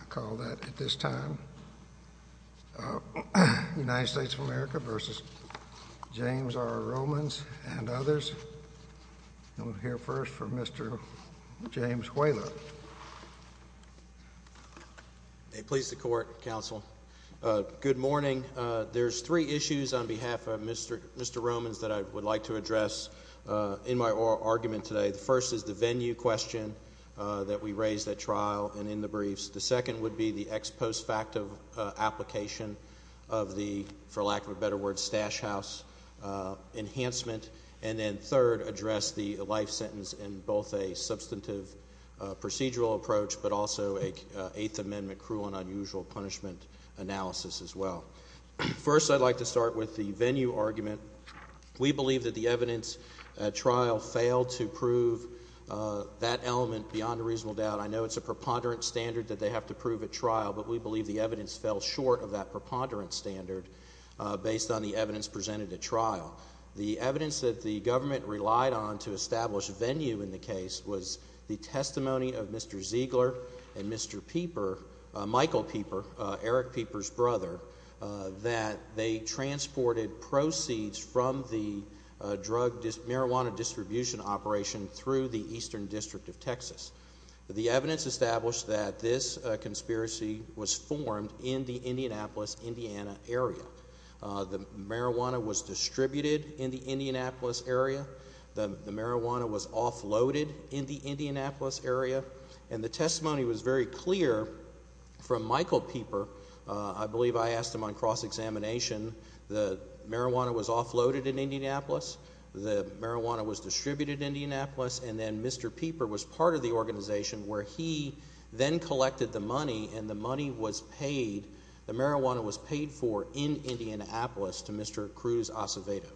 I call that, at this time, United States of America v. James R. Romans and others. I'm going to hear first from Mr. James Whaler. May it please the Court, Counsel. Good morning. There are three issues on behalf of Mr. Romans that I would like to address in my oral argument today. The first is the venue question that we raised at trial and in the briefs. The second would be the ex post facto application of the, for lack of a better word, stash house enhancement. And then third, address the life sentence in both a substantive procedural approach but also an Eighth Amendment cruel and unusual punishment analysis as well. First, I'd like to start with the venue argument. We believe that the evidence at trial failed to prove that element beyond a reasonable doubt. I know it's a preponderant standard that they have to prove at trial, but we believe the evidence fell short of that preponderant standard based on the evidence presented at trial. The evidence that the government relied on to establish venue in the case was the testimony of Mr. Ziegler and Mr. Pieper, Michael Pieper, Eric Pieper's brother, that they transported proceeds from the drug, marijuana distribution operation through the Eastern District of Texas. The evidence established that this conspiracy was formed in the Indianapolis, Indiana area. The marijuana was distributed in the Indianapolis area. The marijuana was offloaded in the Indianapolis area. And the testimony was very clear from Michael Pieper. I believe I asked him on cross-examination. The marijuana was offloaded in Indianapolis. The marijuana was distributed in Indianapolis. And then Mr. Pieper was part of the organization where he then collected the money, and the money was paid, the marijuana was paid for in Indianapolis to Mr. Cruz Acevedo.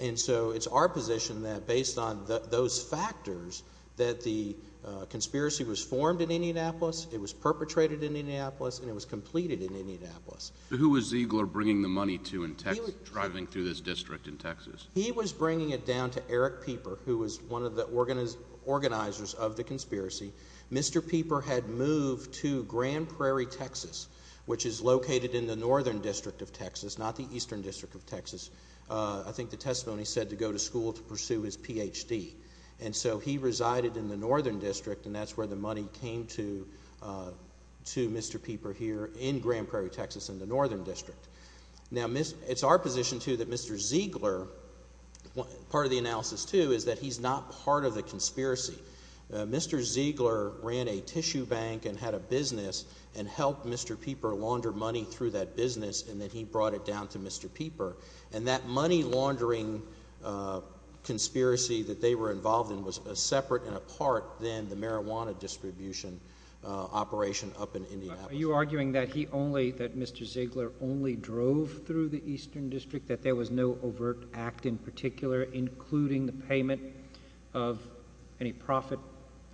And so it's our position that based on those factors that the conspiracy was formed in Indianapolis, it was perpetrated in Indianapolis, and it was completed in Indianapolis. Who was Ziegler bringing the money to in Texas, driving through this district in Texas? He was bringing it down to Eric Pieper, who was one of the organizers of the conspiracy. Mr. Pieper had moved to Grand Prairie, Texas, which is located in the Northern District of Texas, not the Eastern District of Texas. I think the testimony said to go to school to pursue his Ph.D. And so he resided in the Northern District, and that's where the money came to Mr. Pieper here in Grand Prairie, Texas in the Northern District. Now, it's our position, too, that Mr. Ziegler, part of the analysis, too, is that he's not part of the conspiracy. Mr. Ziegler ran a tissue bank and had a business and helped Mr. Pieper launder money through that business, and then he brought it down to Mr. Pieper. And that money laundering conspiracy that they were involved in was separate and apart than the marijuana distribution operation up in Indianapolis. Are you arguing that he only, that Mr. Ziegler only drove through the Eastern District, that there was no overt act in particular, including the payment of any profit?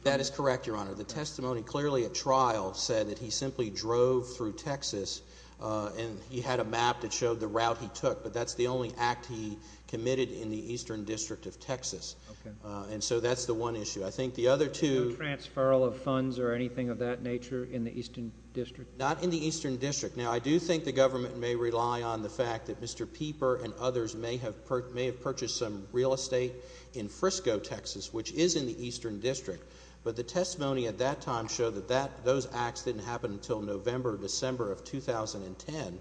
That is correct, Your Honor. The testimony clearly at trial said that he simply drove through Texas, and he had a map that showed the route he took. But that's the only act he committed in the Eastern District of Texas. Okay. And so that's the one issue. I think the other two No transfer of funds or anything of that nature in the Eastern District? Not in the Eastern District. Now, I do think the government may rely on the fact that Mr. Pieper and others may have purchased some real estate in Frisco, Texas, which is in the Eastern District. But the testimony at that time showed that those acts didn't happen until November or December of 2010.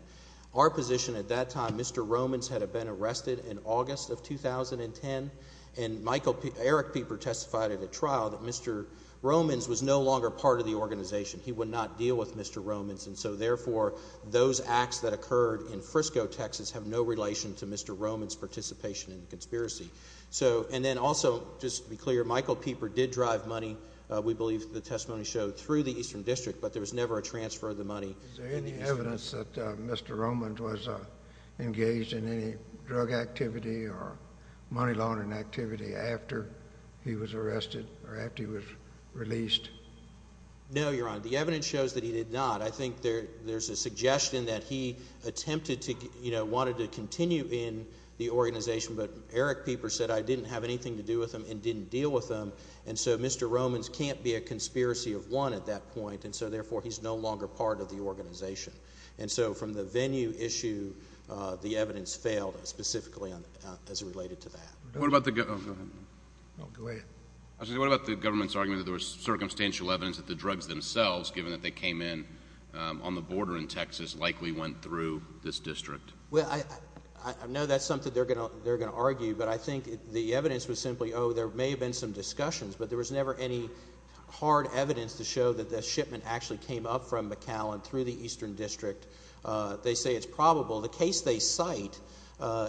Our position at that time, Mr. Romans had been arrested in August of 2010, and Michael – Eric Pieper testified at a trial that Mr. Romans was no longer part of the organization. He would not deal with Mr. Romans. And so, therefore, those acts that occurred in Frisco, Texas, have no relation to Mr. Romans' participation in the conspiracy. So – and then also, just to be clear, Michael Pieper did drive money, we believe the testimony showed, through the Eastern District, but there was never a transfer of the money. Is there any evidence that Mr. Romans was engaged in any drug activity or money laundering activity after he was arrested or after he was released? No, Your Honor. The evidence shows that he did not. I think there's a suggestion that he attempted to – wanted to continue in the organization, but Eric Pieper said, I didn't have anything to do with him and didn't deal with him. And so, Mr. Romans can't be a conspiracy of one at that point, and so, therefore, he's no longer part of the organization. And so, from the venue issue, the evidence failed specifically as it related to that. What about the government's argument that there was circumstantial evidence that the drugs themselves, given that they came in on the border in Texas, likely went through this district? Well, I know that's something they're going to argue, but I think the evidence was simply, oh, there may have been some discussions, but there was never any hard evidence to show that the shipment actually came up from McAllen through the Eastern District. They say it's probable. The case they cite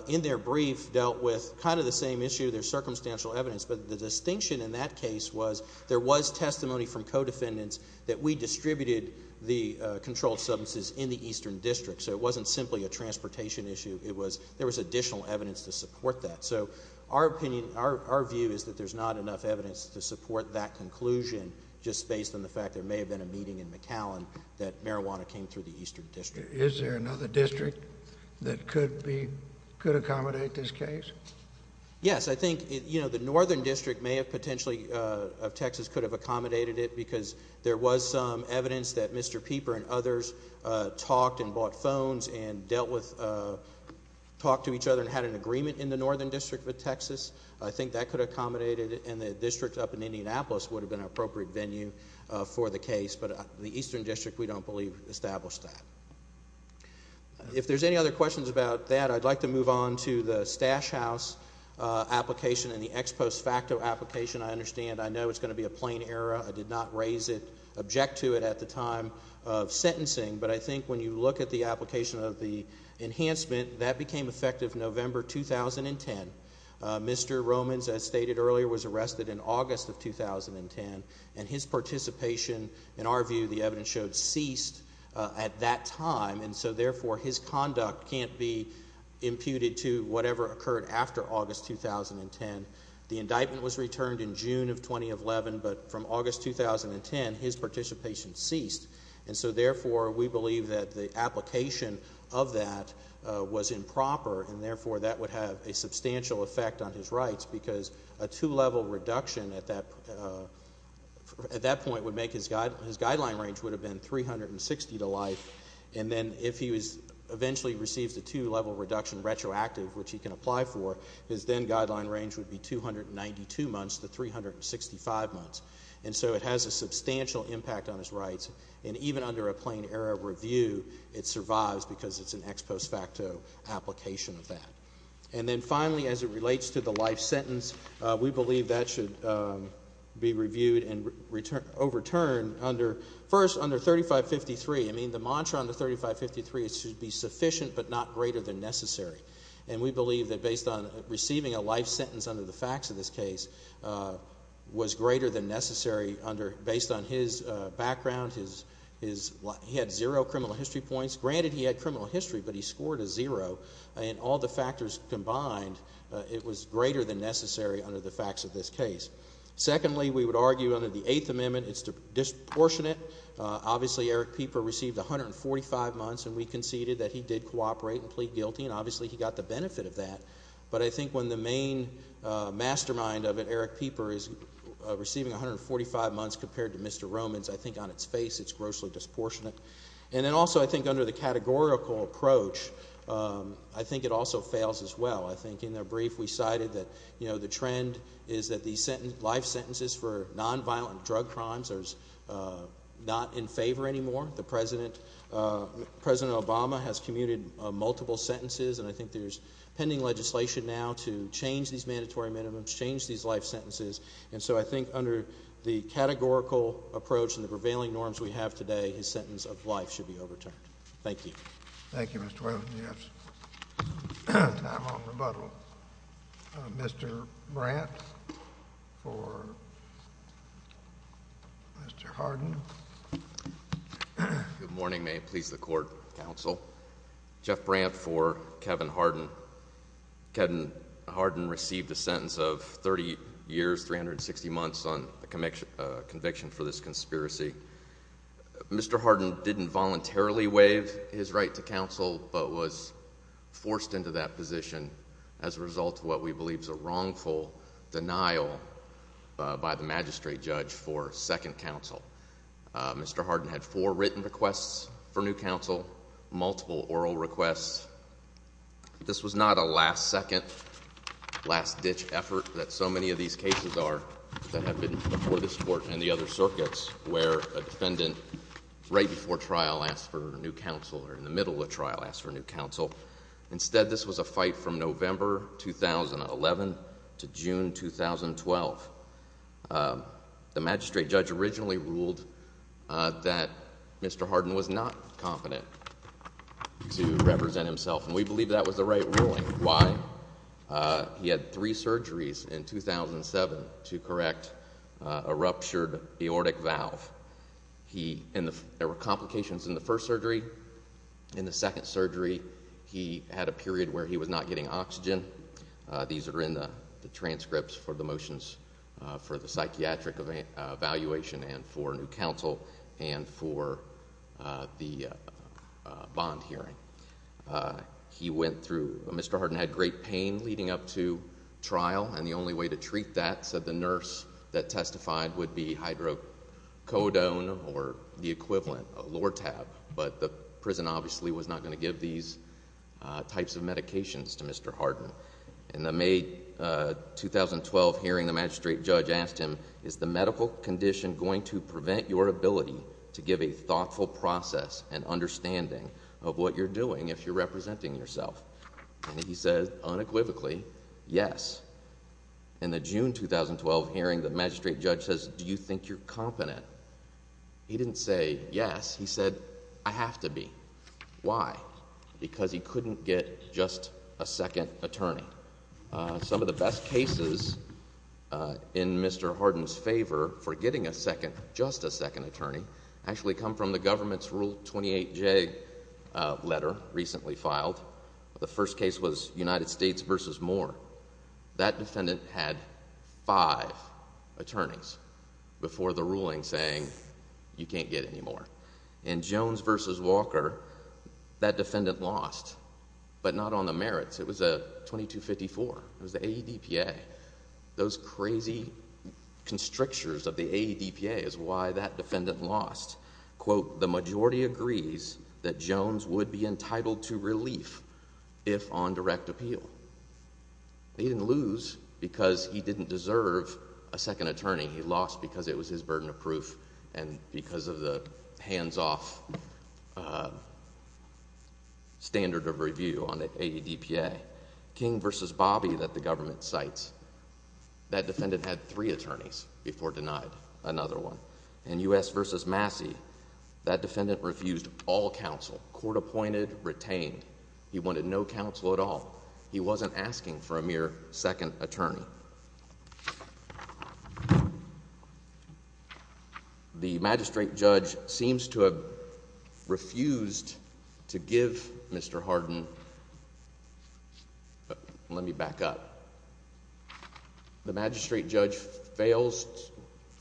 in their brief dealt with kind of the same issue. There's circumstantial evidence, but the distinction in that case was there was testimony from co-defendants that we distributed the controlled substances in the Eastern District. So, it wasn't simply a transportation issue. There was additional evidence to support that. So, our opinion, our view is that there's not enough evidence to support that conclusion just based on the fact there may have been a meeting in McAllen that marijuana came through the Eastern District. Is there another district that could accommodate this case? Yes, I think the Northern District may have potentially, of Texas, could have accommodated it because there was some evidence that Mr. Pieper and others talked and bought phones and dealt with, talked to each other and had an agreement in the Northern District with Texas. I think that could have accommodated it, and the district up in Indianapolis would have been an appropriate venue for the case, but the Eastern District, we don't believe, established that. If there's any other questions about that, I'd like to move on to the Stash House application and the ex post facto application. I understand, I know it's going to be a plain error. I did not raise it, object to it at the time of sentencing, but I think when you look at the application of the enhancement, that became effective November 2010. Mr. Romans, as stated earlier, was arrested in August of 2010, and his participation, in our view, the evidence showed, ceased at that time, and so therefore his conduct can't be imputed to whatever occurred after August 2010. The indictment was returned in June of 2011, but from August 2010, his participation ceased, and so therefore we believe that the application of that was improper, and therefore that would have a substantial effect on his rights because a two-level reduction at that point would make his guideline range would have been 360 to life, and then if he eventually receives a two-level reduction retroactive, which he can apply for, his then guideline range would be 292 months to 365 months, and so it has a substantial impact on his rights, and even under a plain error review, it survives because it's an ex post facto application of that. And then finally, as it relates to the life sentence, we believe that should be reviewed and overturned under, first, under 3553. I mean, the mantra under 3553 is it should be sufficient but not greater than necessary, and we believe that based on receiving a life sentence under the facts of this case was greater than necessary under, based on his background, he had zero criminal history points. Granted, he had criminal history, but he scored a zero, and all the factors combined, it was greater than necessary under the facts of this case. Secondly, we would argue under the Eighth Amendment, it's disproportionate. Obviously, Eric Pieper received 145 months, and we conceded that he did cooperate and plead guilty, and obviously he got the benefit of that, but I think when the main mastermind of it, Eric Pieper, is receiving 145 months compared to Mr. Romans, I think on its face, it's grossly disproportionate. And then also, I think under the categorical approach, I think it also fails as well. I think in their brief, we cited that, you know, the trend is that these life sentences for nonviolent drug crimes are not in favor anymore. The President, President Obama, has commuted multiple sentences, and I think there's pending legislation now to change these mandatory minimums, change these life sentences, and so I think under the categorical approach and the prevailing norms we have today, his sentence applies. His life should be overturned. Thank you. Thank you, Mr. Whalen. I'm on rebuttal. Mr. Brandt for Mr. Hardin. Good morning. May it please the Court, Counsel. Jeff Brandt for Kevin Hardin. Kevin Hardin received a sentence of 30 years, 360 months on conviction for this conspiracy. Mr. Hardin didn't voluntarily waive his right to counsel but was forced into that position as a result of what we believe is a wrongful denial by the magistrate judge for second counsel. Mr. Hardin had four written requests for new counsel, multiple oral requests. This was not a last second, last ditch effort that so many of these cases are that have been before this Court and the other circuits where a defendant right before trial asked for new counsel or in the middle of trial asked for new counsel. Instead, this was a fight from November 2011 to June 2012. The magistrate judge originally ruled that Mr. Hardin was not competent to represent himself, and we believe that was the right ruling. Why? He had three surgeries in 2007 to correct a ruptured aortic valve. There were complications in the first surgery. In the second surgery, he had a period where he was not getting oxygen. These are in the transcripts for the motions for the psychiatric evaluation and for new counsel and for the bond hearing. Mr. Hardin had great pain leading up to trial, and the only way to treat that, said the nurse that testified, would be hydrocodone or the equivalent, Lortab. But the prison obviously was not going to give these types of medications to Mr. Hardin. In the May 2012 hearing, the magistrate judge asked him, is the medical condition going to prevent your ability to give a thoughtful process and understanding of what you're doing if you're representing yourself? And he said, unequivocally, yes. In the June 2012 hearing, the magistrate judge says, do you think you're competent? He didn't say yes. He said, I have to be. Why? Because he couldn't get just a second attorney. Some of the best cases in Mr. Hardin's favor for getting a second, just a second attorney, actually come from the government's Rule 28J letter recently filed. The first case was United States v. Moore. That defendant had five attorneys before the ruling saying, you can't get any more. In Jones v. Walker, that defendant lost, but not on the merits. It was a 2254. It was the AEDPA. Those crazy constrictors of the AEDPA is why that defendant lost. Quote, the majority agrees that Jones would be entitled to relief if on direct appeal. He didn't lose because he didn't deserve a second attorney. He lost because it was his burden of proof and because of the hands-off standard of review on the AEDPA. King v. Bobby that the government cites, that defendant had three attorneys before denied another one. In U.S. v. Massey, that defendant refused all counsel. Court appointed, retained. He wanted no counsel at all. He wasn't asking for a mere second attorney. The magistrate judge seems to have refused to give Mr. Hardin. Let me back up. The magistrate judge fails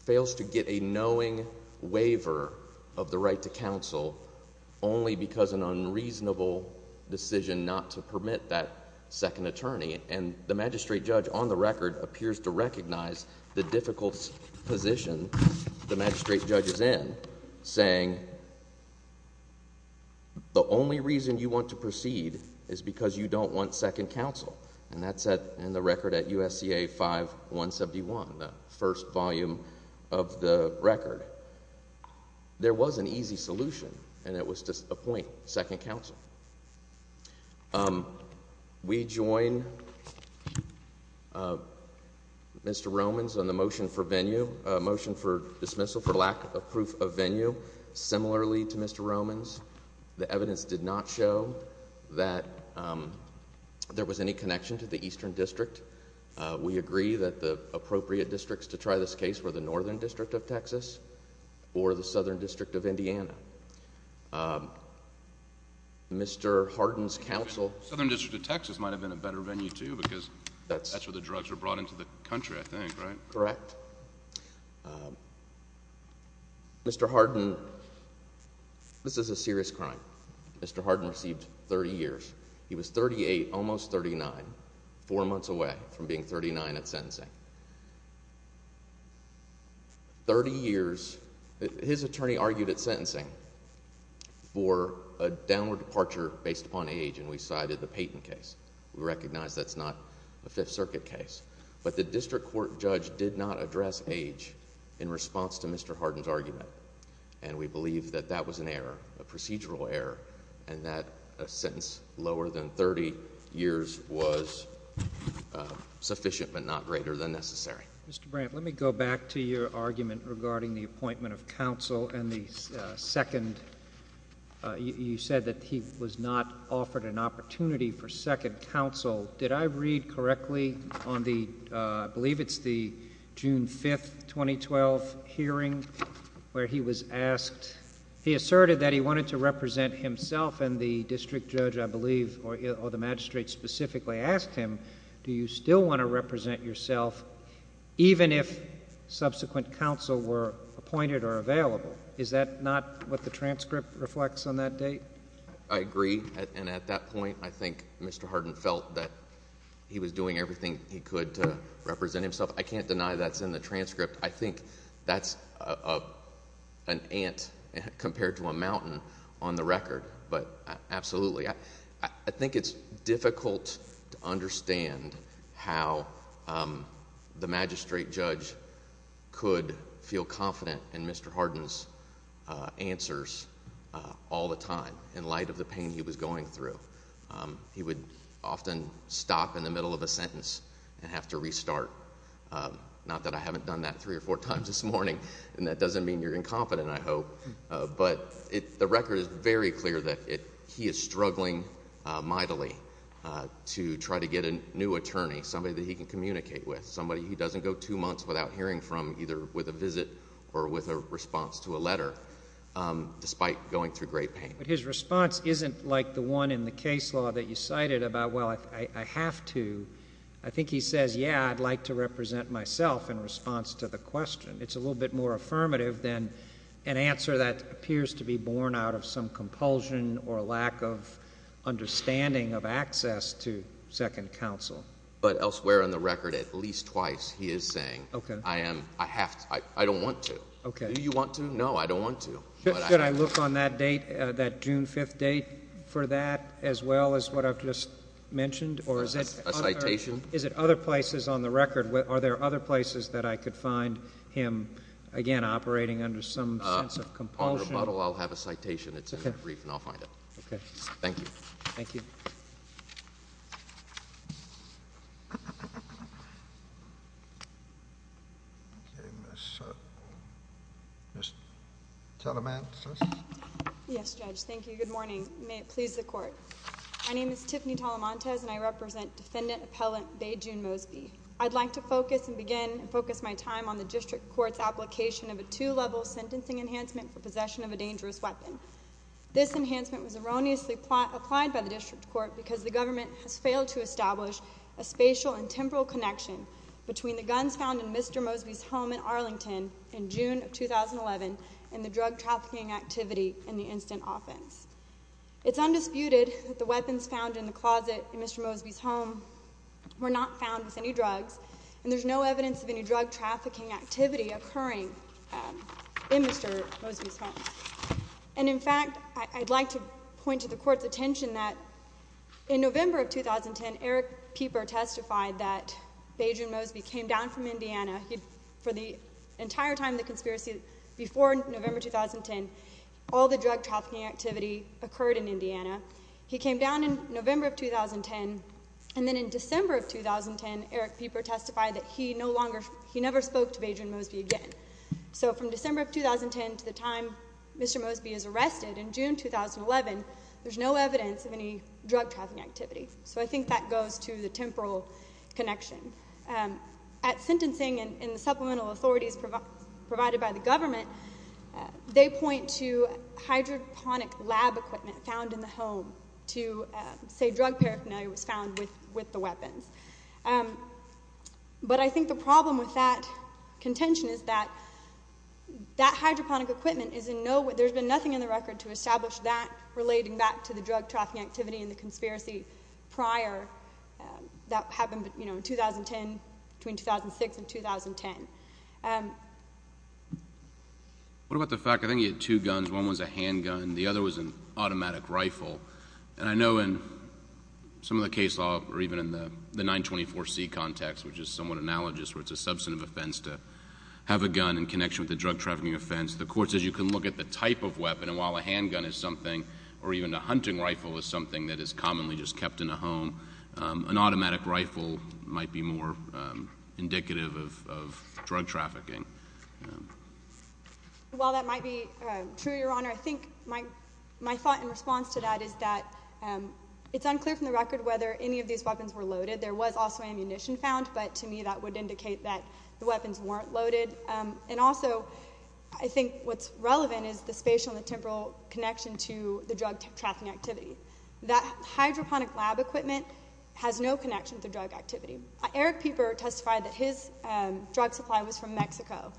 to get a knowing waiver of the right to counsel only because an unreasonable decision not to permit that second attorney. And the magistrate judge on the record appears to recognize the difficult position the magistrate judge is in, saying the only reason you want to proceed is because you don't want second counsel. And that's in the record at USCA 5171, the first volume of the record. There was an easy solution, and it was to appoint second counsel. We join Mr. Romans on the motion for venue, motion for dismissal for lack of proof of venue. Similarly to Mr. Romans, the evidence did not show that there was any connection to the eastern district. We agree that the appropriate districts to try this case were the northern district of Texas or the southern district of Indiana. Mr. Hardin's counsel— The southern district of Texas might have been a better venue, too, because that's where the drugs were brought into the country, I think, right? Correct. Mr. Hardin—this is a serious crime. Mr. Hardin received 30 years. He was 38, almost 39, four months away from being 39 at sentencing. Thirty years. His attorney argued at sentencing for a downward departure based upon age, and we cited the Payton case. We recognize that's not a Fifth Circuit case. But the district court judge did not address age in response to Mr. Hardin's argument, and we believe that that was an error, a procedural error, and that a sentence lower than 30 years was sufficient but not greater than necessary. Mr. Brandt, let me go back to your argument regarding the appointment of counsel and the second—you said that he was not offered an opportunity for second counsel. Did I read correctly on the—I believe it's the June 5, 2012 hearing where he was asked—he asserted that he wanted to represent himself, and the district judge, I believe, or the magistrate specifically asked him, do you still want to represent yourself even if subsequent counsel were appointed or available? Is that not what the transcript reflects on that date? I agree, and at that point, I think Mr. Hardin felt that he was doing everything he could to represent himself. I can't deny that's in the transcript. I think that's an ant compared to a mountain on the record, but absolutely. I think it's difficult to understand how the magistrate judge could feel confident in Mr. Hardin's answers all the time in light of the pain he was going through. He would often stop in the middle of a sentence and have to restart. Not that I haven't done that three or four times this morning, and that doesn't mean you're incompetent, I hope, but the record is very clear that he is struggling mightily to try to get a new attorney, somebody that he can communicate with, somebody he doesn't go two months without hearing from either with a visit or with a response to a letter, despite going through great pain. But his response isn't like the one in the case law that you cited about, well, I have to. I think he says, yeah, I'd like to represent myself in response to the question. It's a little bit more affirmative than an answer that appears to be born out of some compulsion or lack of understanding of access to second counsel. But elsewhere in the record, at least twice, he is saying, I don't want to. Do you want to? No, I don't want to. Should I look on that date, that June 5th date, for that as well as what I've just mentioned? A citation? Is it other places on the record? Are there other places that I could find him, again, operating under some sense of compulsion? On the bottle, I'll have a citation. It's in the brief, and I'll find it. Okay. Thank you. Thank you. Okay, Ms. Talamantes. Yes, Judge, thank you. Good morning. May it please the Court. My name is Tiffany Talamantes, and I represent Defendant Appellant Bae June Mosby. I'd like to focus and begin and focus my time on the district court's application of a two-level sentencing enhancement for possession of a dangerous weapon. This enhancement was erroneously applied by the district court because the government has failed to establish a spatial and temporal connection between the guns found in Mr. Mosby's home in Arlington in June of 2011 and the drug trafficking activity in the instant offense. It's undisputed that the weapons found in the closet in Mr. Mosby's home were not found with any drugs, and there's no evidence of any drug trafficking activity occurring in Mr. Mosby's home. And, in fact, I'd like to point to the Court's attention that in November of 2010, Eric Pieper testified that Bae June Mosby came down from Indiana. For the entire time of the conspiracy, before November 2010, all the drug trafficking activity occurred in Indiana. He came down in November of 2010, and then in December of 2010, Eric Pieper testified that he no longer, he never spoke to Bae June Mosby again. So from December of 2010 to the time Mr. Mosby is arrested in June 2011, there's no evidence of any drug trafficking activity. So I think that goes to the temporal connection. At sentencing, in the supplemental authorities provided by the government, they point to hydroponic lab equipment found in the home to say drug paraphernalia was found with the weapons. But I think the problem with that contention is that that hydroponic equipment is in no way, there's been nothing in the record to establish that relating back to the drug trafficking activity and the conspiracy prior that happened in 2010, between 2006 and 2010. What about the fact, I think he had two guns, one was a handgun, the other was an automatic rifle. And I know in some of the case law or even in the 924C context, which is somewhat analogous where it's a substantive offense to have a gun in connection with a drug trafficking offense, the Court says you can look at the type of weapon, and while a handgun is something, or even a hunting rifle is something that is commonly just kept in a home, an automatic rifle might be more indicative of drug trafficking. Well, that might be true, Your Honor. I think my thought in response to that is that it's unclear from the record whether any of these weapons were loaded. There was also ammunition found, but to me that would indicate that the weapons weren't loaded. And also, I think what's relevant is the spatial and temporal connection to the drug trafficking activity. That hydroponic lab equipment has no connection to drug activity. Eric Pieper testified that his drug supply was from Mexico.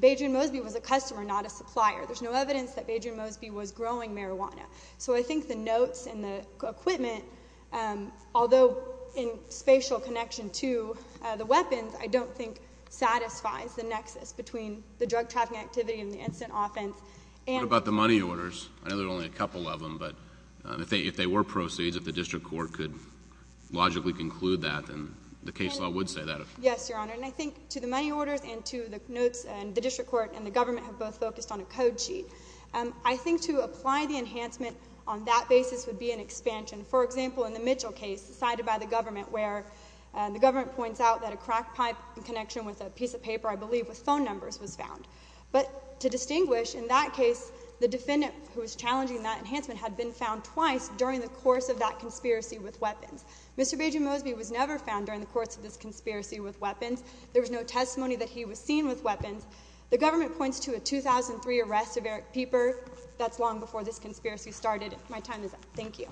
Badrian Mosby was a customer, not a supplier. There's no evidence that Badrian Mosby was growing marijuana. So I think the notes and the equipment, although in spatial connection to the weapons, I don't think satisfies the nexus between the drug trafficking activity and the incident offense. What about the money orders? I know there are only a couple of them, but if they were proceeds, if the district court could logically conclude that, then the case law would say that. Yes, Your Honor, and I think to the money orders and to the notes, the district court and the government have both focused on a code sheet. For example, in the Mitchell case, cited by the government, where the government points out that a crack pipe in connection with a piece of paper, I believe with phone numbers, was found. But to distinguish, in that case, the defendant who was challenging that enhancement had been found twice during the course of that conspiracy with weapons. Mr. Badrian Mosby was never found during the course of this conspiracy with weapons. There was no testimony that he was seen with weapons. The government points to a 2003 arrest of Eric Pieper. That's long before this conspiracy started. My time is up. Thank you.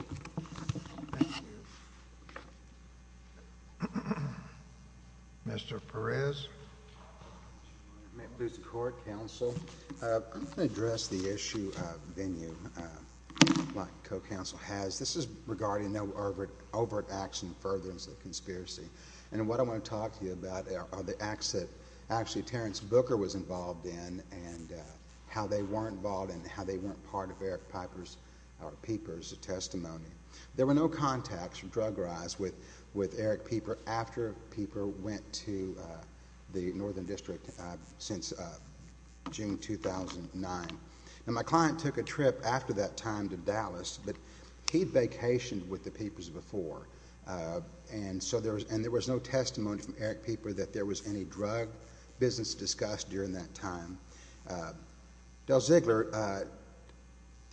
Mr. Perez. May it please the court, counsel. I'm going to address the issue of venue, like the co-counsel has. This is regarding overt action, furtherance of the conspiracy. And what I want to talk to you about are the acts that actually Terrence Booker was involved in and how they weren't involved and how they weren't part of Eric Pieper's testimony. There were no contacts, drug-wise, with Eric Pieper after Pieper went to the Northern District since June 2009. My client took a trip after that time to Dallas, but he'd vacationed with the Piepers before. And there was no testimony from Eric Pieper that there was any drug business discussed during that time. Del Ziegler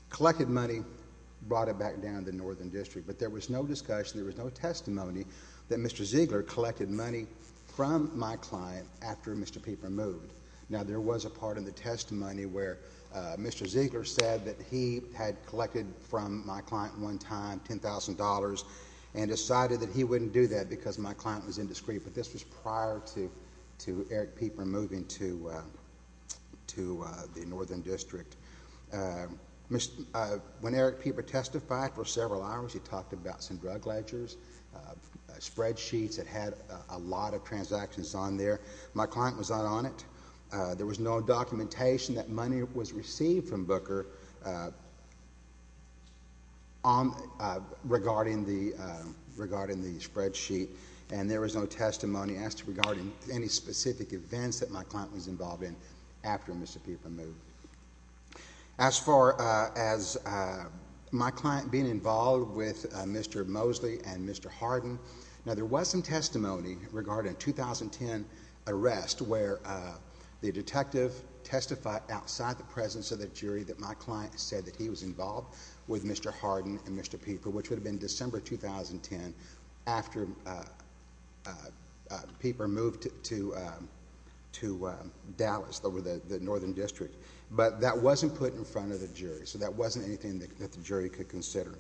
collected money, brought it back down to the Northern District, but there was no discussion, there was no testimony that Mr. Ziegler collected money from my client after Mr. Pieper moved. Now, there was a part in the testimony where Mr. Ziegler said that he had collected from my client one time $10,000 and decided that he wouldn't do that because my client was indiscreet, but this was prior to Eric Pieper moving to the Northern District. When Eric Pieper testified for several hours, he talked about some drug ledgers, spreadsheets that had a lot of transactions on there. My client was not on it. There was no documentation that money was received from Booker regarding the spreadsheet, and there was no testimony as to regarding any specific events that my client was involved in after Mr. Pieper moved. As far as my client being involved with Mr. Mosley and Mr. Harden, now there was some testimony regarding a 2010 arrest where the detective testified outside the presence of the jury that my client said that he was involved with Mr. Harden and Mr. Pieper, which would have been December 2010 after Pieper moved to Dallas over the Northern District, but that wasn't put in front of the jury, so that wasn't anything that the jury could consider.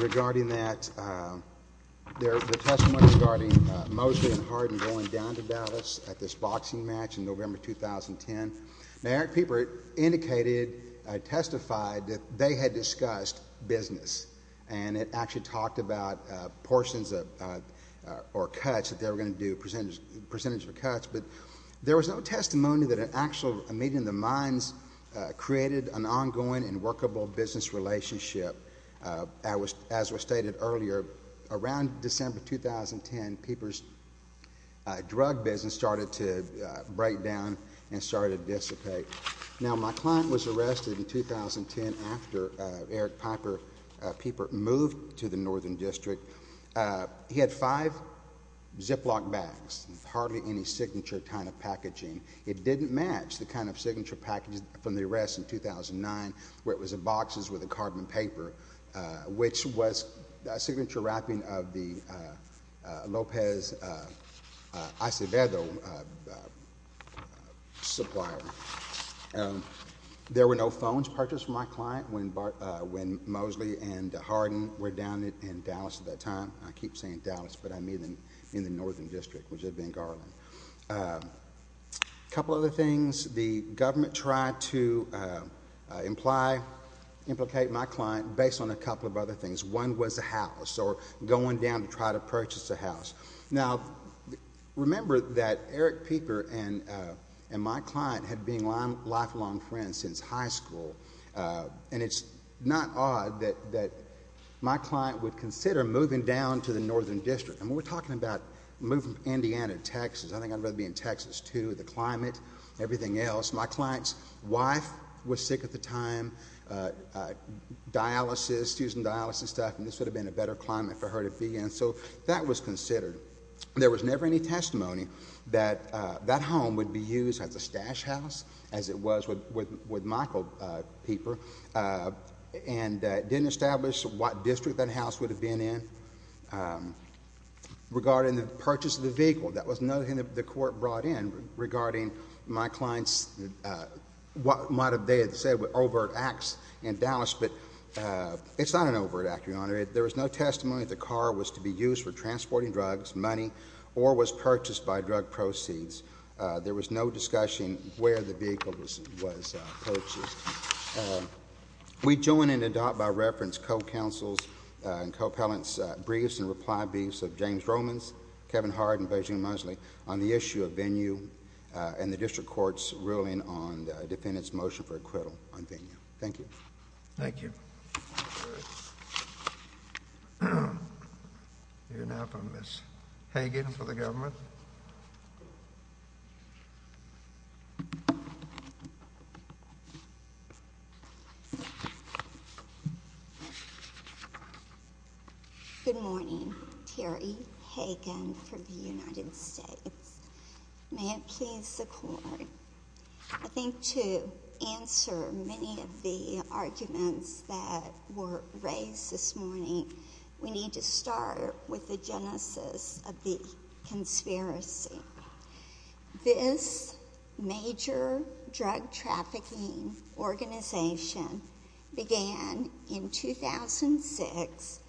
Regarding that, the testimony regarding Mosley and Harden going down to Dallas at this boxing match in November 2010, now Eric Pieper indicated, testified that they had discussed business, and it actually talked about portions or cuts that they were going to do, percentage of cuts, but there was no testimony that an actual meeting of the minds created an ongoing and workable business relationship. As was stated earlier, around December 2010, Pieper's drug business started to break down and started to dissipate. Now, my client was arrested in 2010 after Eric Pieper, Pieper moved to the Northern District. He had five Ziploc bags with hardly any signature kind of packaging. It didn't match the kind of signature packaging from the arrest in 2009 where it was in boxes with a carbon paper, which was a signature wrapping of the Lopez Acevedo supplier. There were no phones purchased from my client when Mosley and Harden were down in Dallas at that time. I keep saying Dallas, but I mean in the Northern District, which had been Garland. A couple other things. The government tried to imply, implicate my client based on a couple of other things. One was a house or going down to try to purchase a house. Now, remember that Eric Pieper and my client had been lifelong friends since high school, and it's not odd that my client would consider moving down to the Northern District. And when we're talking about moving from Indiana to Texas, I think I'd rather be in Texas too, the climate, everything else. My client's wife was sick at the time, dialysis, using dialysis stuff, and this would have been a better climate for her to be in. So that was considered. There was never any testimony that that home would be used as a stash house, as it was with Michael Pieper, and didn't establish what district that house would have been in. Regarding the purchase of the vehicle, that was nothing that the court brought in regarding my client's, what they had said were overt acts in Dallas, but it's not an overt act, Your Honor. There was no testimony that the car was to be used for transporting drugs, money, or was purchased by drug proceeds. There was no discussion where the vehicle was purchased. We join and adopt by reference co-counsels and co-appellants briefs and reply briefs of James Romans, Kevin Harden, and Virginia Mosley on the issue of venue and the district court's ruling on the defendant's motion for acquittal on venue. Thank you. Thank you. We hear now from Ms. Hagan for the government. Good morning. Terry Hagan for the United States. May it please the court, I think to answer many of the arguments that were raised this morning, we need to start with the genesis of the conspiracy. This major drug trafficking organization began in 2006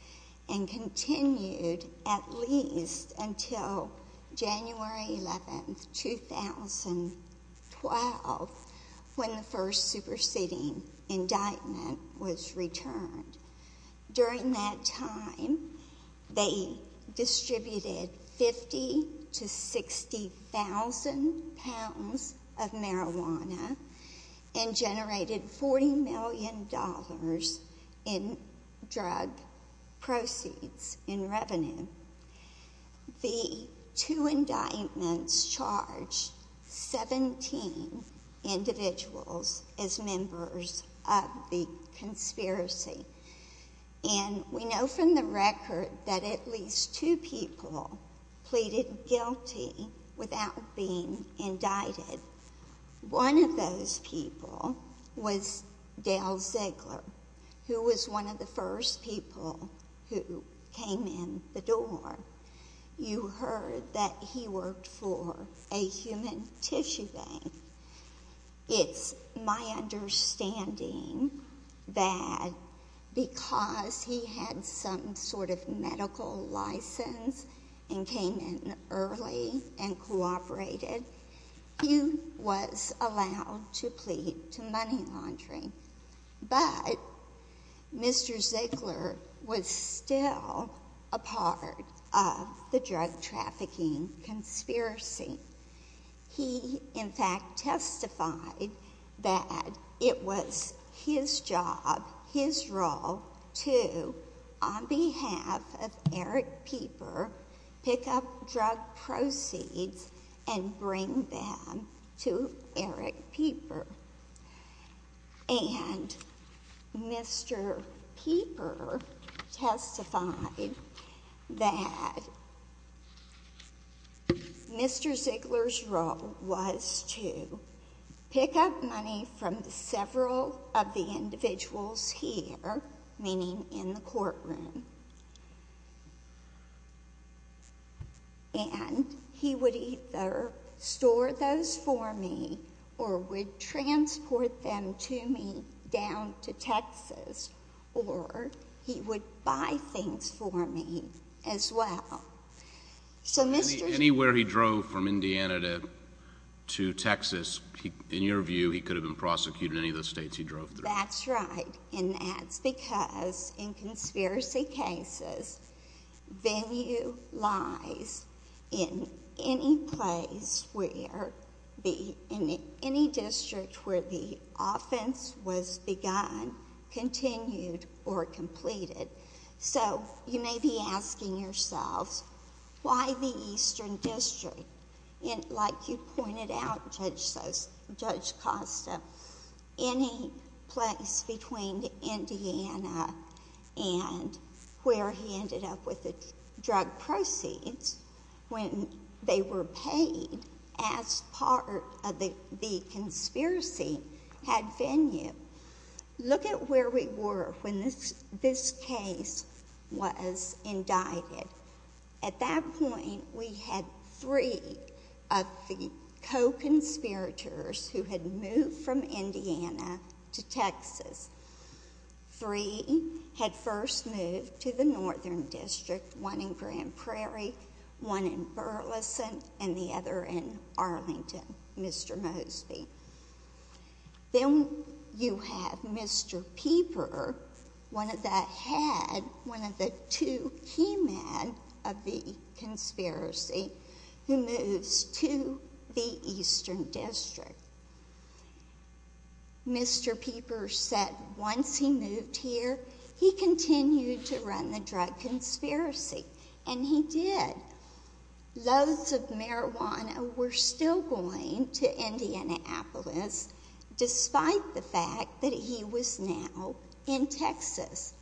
and continued at least until January 11, 2012, when the first superseding indictment was returned. During that time, they distributed 50 to 60,000 pounds of marijuana and generated $40 million in drug proceeds in revenue. The two indictments charged 17 individuals as members of the conspiracy. And we know from the record that at least two people pleaded guilty without being indicted. One of those people was Dale Ziegler, who was one of the first people who came in the door. You heard that he worked for a human tissue bank. It's my understanding that because he had some sort of medical license and came in early and cooperated, he was allowed to plead to money laundering. But Mr. Ziegler was still a part of the drug trafficking conspiracy. He, in fact, testified that it was his job, his role, to, on behalf of Eric Pieper, pick up drug proceeds and bring them to Eric Pieper. And Mr. Pieper testified that Mr. Ziegler's role was to pick up money from several of the individuals here, meaning in the courtroom. And he would either store those for me or would transport them to me down to Texas, or he would buy things for me as well. Anywhere he drove from Indiana to Texas, in your view, he could have been prosecuted in any of the states he drove through. That's right, and that's because in conspiracy cases, value lies in any district where the offense was begun, continued, or completed. So you may be asking yourselves, why the Eastern District? And like you pointed out, Judge Costa, any place between Indiana and where he ended up with the drug proceeds, when they were paid as part of the conspiracy, had venue. Look at where we were when this case was indicted. At that point, we had three of the co-conspirators who had moved from Indiana to Texas. Three had first moved to the Northern District, one in Grand Prairie, one in Burleson, and the other in Arlington, Mr. Mosby. Then you have Mr. Pieper, one of the two he met of the conspiracy, who moves to the Eastern District. Mr. Pieper said once he moved here, he continued to run the drug conspiracy, and he did. Loads of marijuana were still going to Indianapolis, despite the fact that he was now in Texas.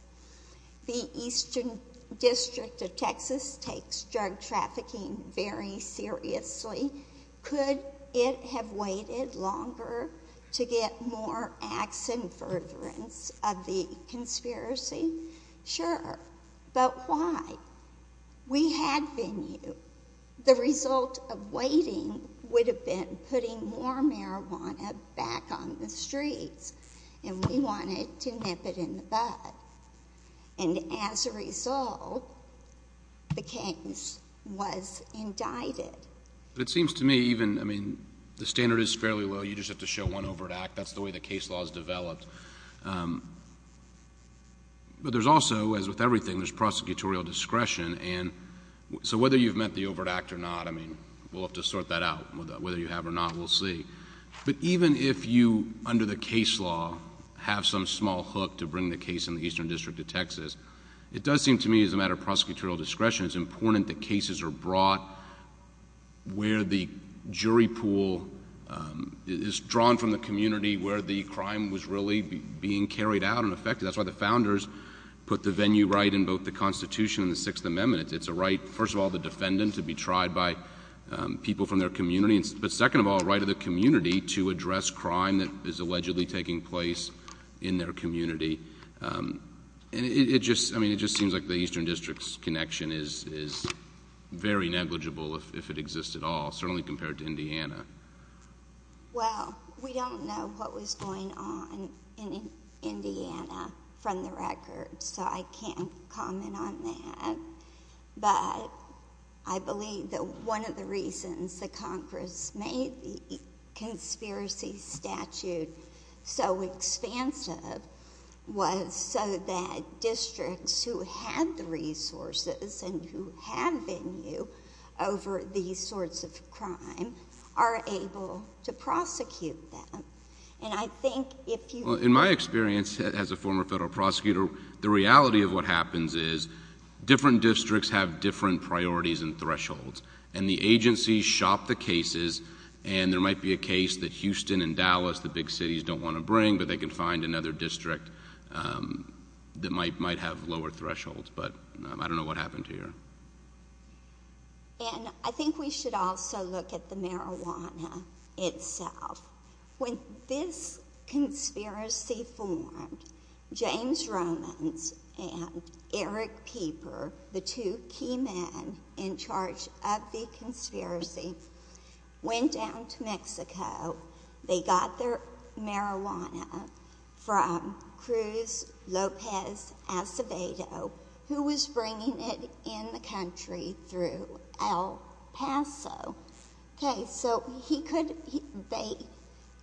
The Eastern District of Texas takes drug trafficking very seriously. Could it have waited longer to get more acts and furtherance of the conspiracy? Sure, but why? We had venue. The result of waiting would have been putting more marijuana back on the streets, and we wanted to nip it in the bud. And as a result, the case was indicted. But it seems to me even, I mean, the standard is fairly low. You just have to show one overt act. That's the way the case law is developed. But there's also, as with everything, there's prosecutorial discretion. So whether you've met the overt act or not, I mean, we'll have to sort that out. Whether you have or not, we'll see. But even if you, under the case law, have some small hook to bring the case in the Eastern District of Texas, it does seem to me as a matter of prosecutorial discretion, it's important that cases are brought where the jury pool is drawn from the community where the crime was really being carried out and affected. That's why the founders put the venue right in both the Constitution and the Sixth Amendment. It's a right, first of all, the defendant to be tried by people from their community, but second of all, a right of the community to address crime that is allegedly taking place in their community. It just seems like the Eastern District's connection is very negligible if it exists at all, certainly compared to Indiana. Well, we don't know what was going on in Indiana from the record, so I can't comment on that. But I believe that one of the reasons that Congress made the conspiracy statute so expansive was so that districts who had the resources and who had venue over these sorts of crime are able to prosecute them. And I think if you— Districts have different priorities and thresholds, and the agencies shop the cases, and there might be a case that Houston and Dallas, the big cities, don't want to bring, but they can find another district that might have lower thresholds. But I don't know what happened here. And I think we should also look at the marijuana itself. When this conspiracy formed, James Romans and Eric Pieper, the two key men in charge of the conspiracy, went down to Mexico. They got their marijuana from Cruz Lopez Acevedo, who was bringing it in the country through El Paso. Okay, so he could—they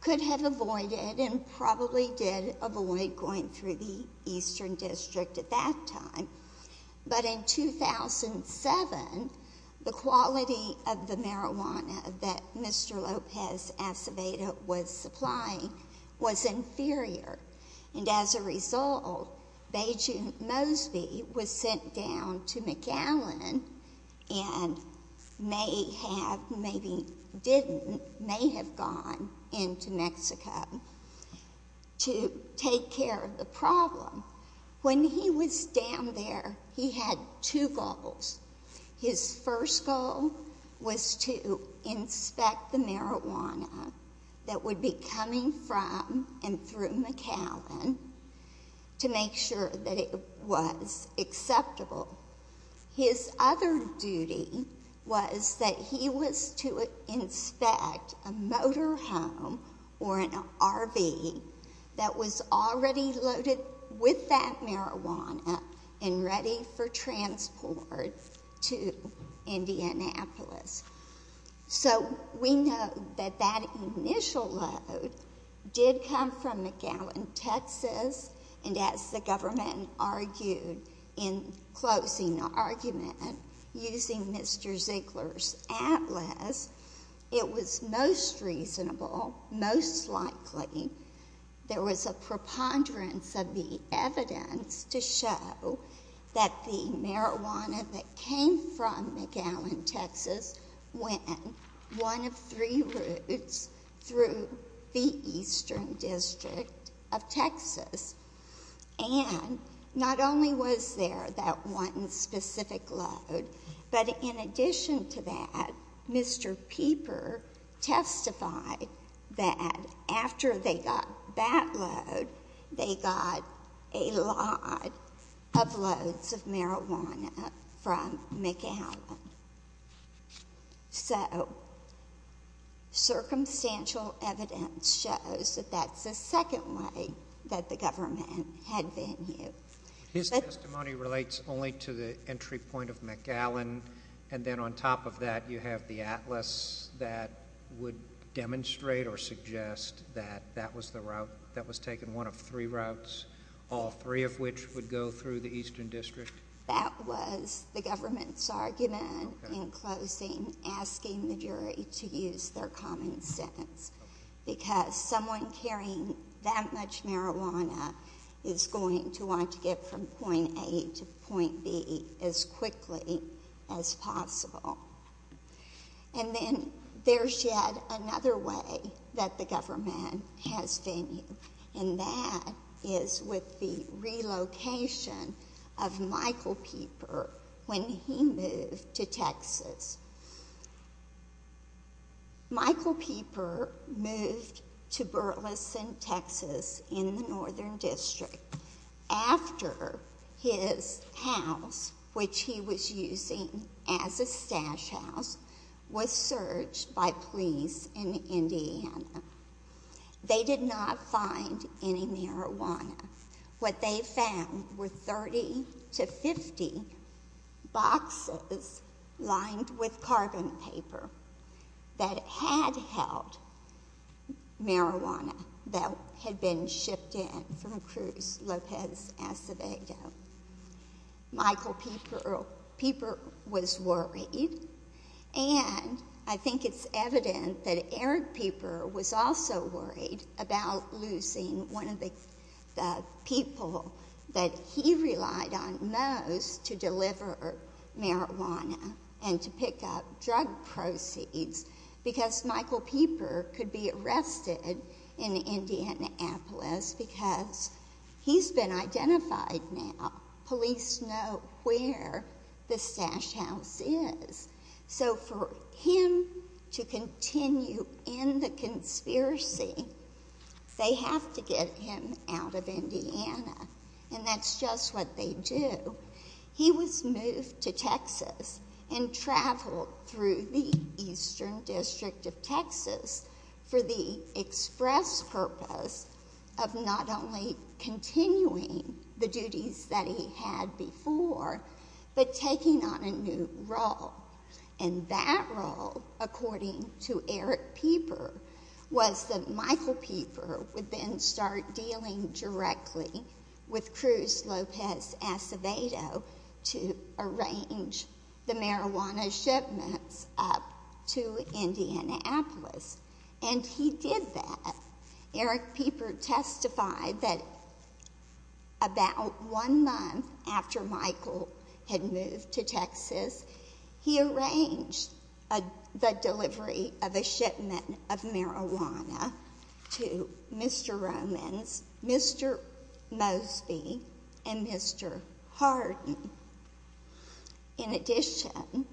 could have avoided and probably did avoid going through the Eastern District at that time. But in 2007, the quality of the marijuana that Mr. Lopez Acevedo was supplying was inferior. And as a result, Beijing Mosby was sent down to McAllen and may have—maybe didn't—may have gone into Mexico to take care of the problem. When he was down there, he had two goals. His first goal was to inspect the marijuana that would be coming from and through McAllen to make sure that it was acceptable. His other duty was that he was to inspect a motor home or an RV that was already loaded with that marijuana and ready for transport to Indianapolis. So we know that that initial load did come from McAllen, Texas, and as the government argued in closing the argument using Mr. Ziegler's atlas, it was most reasonable, most likely, there was a preponderance of the evidence to show that the marijuana that came from McAllen, Texas, went one of three routes through the Eastern District of Texas. And not only was there that one specific load, but in addition to that, Mr. Pieper testified that after they got that load, they got a lot of loads of marijuana from McAllen. So, circumstantial evidence shows that that's the second way that the government had been used. His testimony relates only to the entry point of McAllen, and then on top of that, you have the atlas that would demonstrate or suggest that that was taken one of three routes, all three of which would go through the Eastern District? That was the government's argument in closing, asking the jury to use their common sense, because someone carrying that much marijuana is going to want to get from point A to point B as quickly as possible. And then there's yet another way that the government has been used, and that is with the relocation of Michael Pieper when he moved to Texas. Michael Pieper moved to Burleson, Texas, in the Northern District, after his house, which he was using as a stash house, was searched by police in Indiana. They did not find any marijuana. What they found were 30 to 50 boxes lined with carbon paper that had held marijuana that had been shipped in from Cruz Lopez Acevedo. Michael Pieper was worried, and I think it's evident that Eric Pieper was also worried about losing one of the people that he relied on most to deliver marijuana and to pick up drug proceeds, because Michael Pieper could be arrested in Indianapolis because he's been identified now. Police know where the stash house is. So for him to continue in the conspiracy, they have to get him out of Indiana, and that's just what they do. He was moved to Texas and traveled through the Eastern District of Texas for the express purpose of not only continuing the duties that he had before, but taking on a new role, and that role, according to Eric Pieper, was that Michael Pieper would then start dealing directly with Cruz Lopez Acevedo to arrange the marijuana shipments up to Indianapolis, and he did that. Eric Pieper testified that about one month after Michael had moved to Texas, he arranged the delivery of a shipment of marijuana to Mr. Romans, Mr. Mosby, and Mr. Harden. In addition,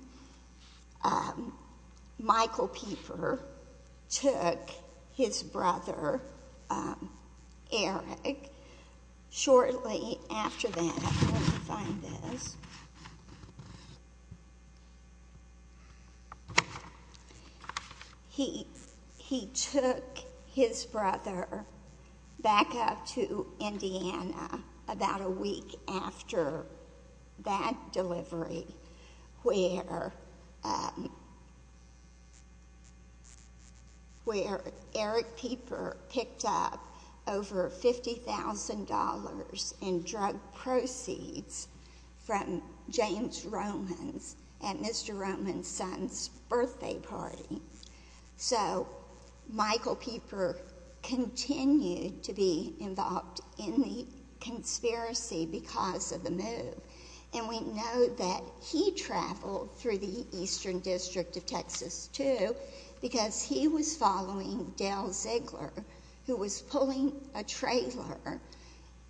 Michael Pieper took his brother Eric. Shortly after that, I'm going to find this. He took his brother back up to Indiana about a week after that delivery, where Eric Pieper picked up over $50,000 in drug proceeds from James Romans at Mr. Romans' son's birthday party. So Michael Pieper continued to be involved in the conspiracy because of the move, and we know that he traveled through the Eastern District of Texas, too, because he was following Dale Ziegler, who was pulling a trailer,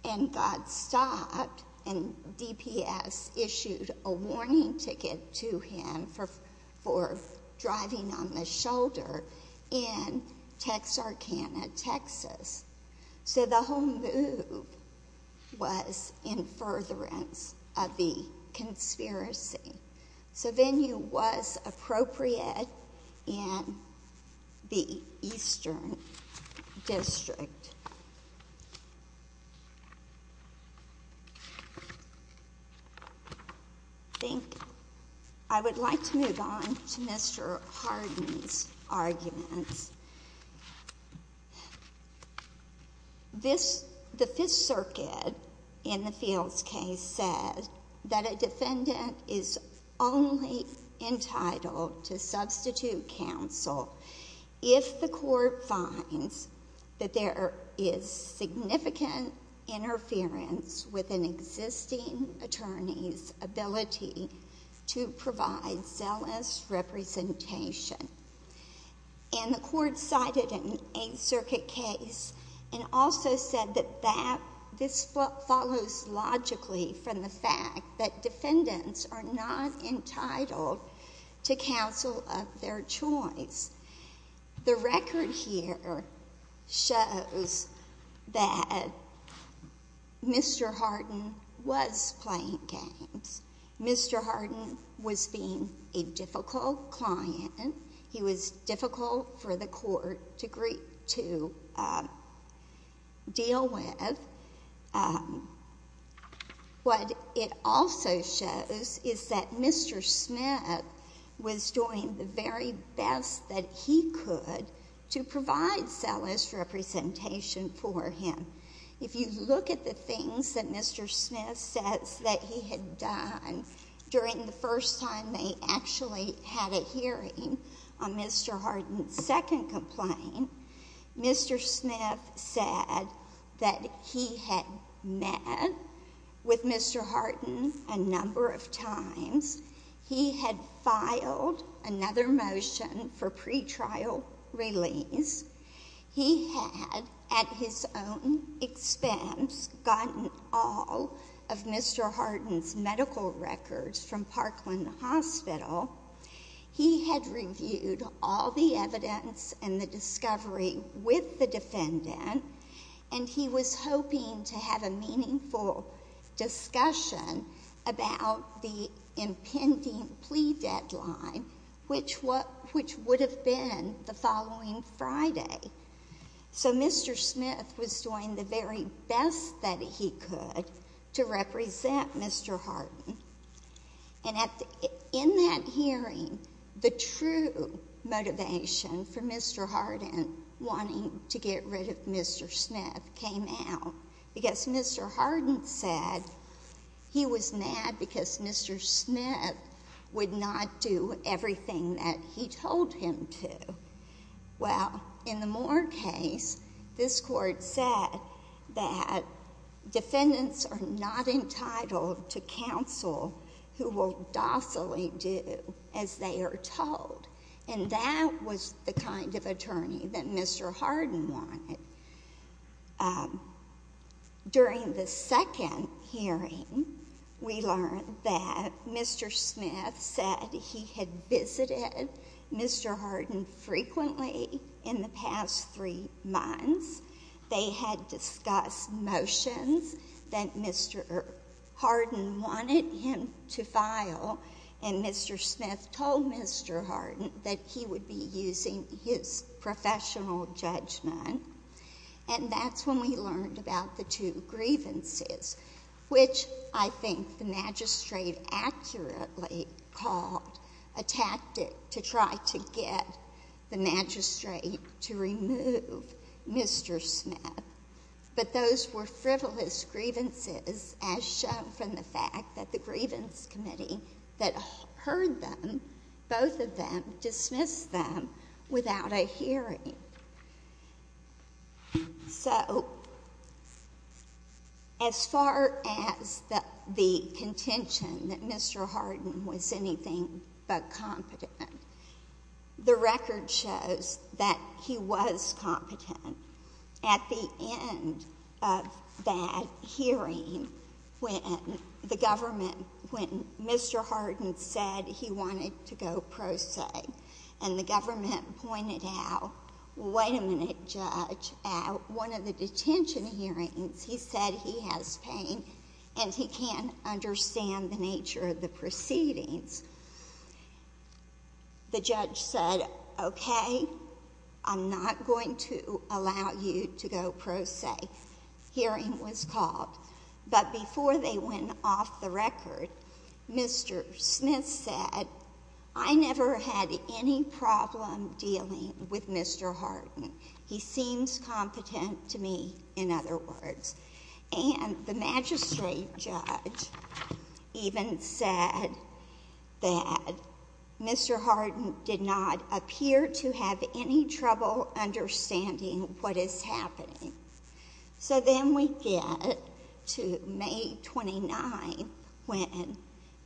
and got stopped, and DPS issued a warning ticket to him for driving on the shoulder in Texarkana, Texas. So the whole move was in furtherance of the conspiracy. So venue was appropriate in the Eastern District. I think I would like to move on to Mr. Harden's arguments. The Fifth Circuit in the Fields case said that a defendant is only entitled to substitute counsel if the court finds that there is significant interference with an existing attorney's ability to provide zealous representation. And the court cited an Eighth Circuit case and also said that this follows logically from the fact that defendants are not entitled to counsel of their choice. The record here shows that Mr. Harden was playing games. Mr. Harden was being a difficult client. He was difficult for the court to deal with. What it also shows is that Mr. Smith was doing the very best that he could to provide zealous representation for him. If you look at the things that Mr. Smith says that he had done during the first time they actually had a hearing on Mr. Harden's second complaint, Mr. Smith said that he had met with Mr. Harden a number of times. He had filed another motion for pretrial release. He had, at his own expense, gotten all of Mr. Harden's medical records from Parkland Hospital. He had reviewed all the evidence and the discovery with the defendant, and he was hoping to have a meaningful discussion about the impending plea deadline, which would have been the following Friday. So Mr. Smith was doing the very best that he could to represent Mr. Harden. And in that hearing, the true motivation for Mr. Harden wanting to get rid of Mr. Smith came out because Mr. Harden said he was mad because Mr. Smith would not do everything that he told him to. Well, in the Moore case, this court said that defendants are not entitled to counsel who will docilely do as they are told, and that was the kind of attorney that Mr. Harden wanted. During the second hearing, we learned that Mr. Smith said he had visited Mr. Harden frequently in the past three months. They had discussed motions that Mr. Harden wanted him to file, and Mr. Smith told Mr. Harden that he would be using his professional judgment. And that's when we learned about the two grievances, which I think the magistrate accurately called a tactic to try to get the magistrate to remove Mr. Smith. But those were frivolous grievances as shown from the fact that the grievance committee that heard them, both of them dismissed them without a hearing. So as far as the contention that Mr. Harden was anything but competent, the record shows that he was competent. At the end of that hearing, when the government, when Mr. Harden said he wanted to go pro se and the government pointed out, wait a minute, Judge, at one of the detention hearings, he said he has pain and he can't understand the nature of the proceedings. The judge said, okay, I'm not going to allow you to go pro se. Hearing was called. But before they went off the record, Mr. Smith said, I never had any problem dealing with Mr. Harden. He seems competent to me, in other words. And the magistrate judge even said that Mr. Harden did not appear to have any trouble understanding what is happening. So then we get to May 29th when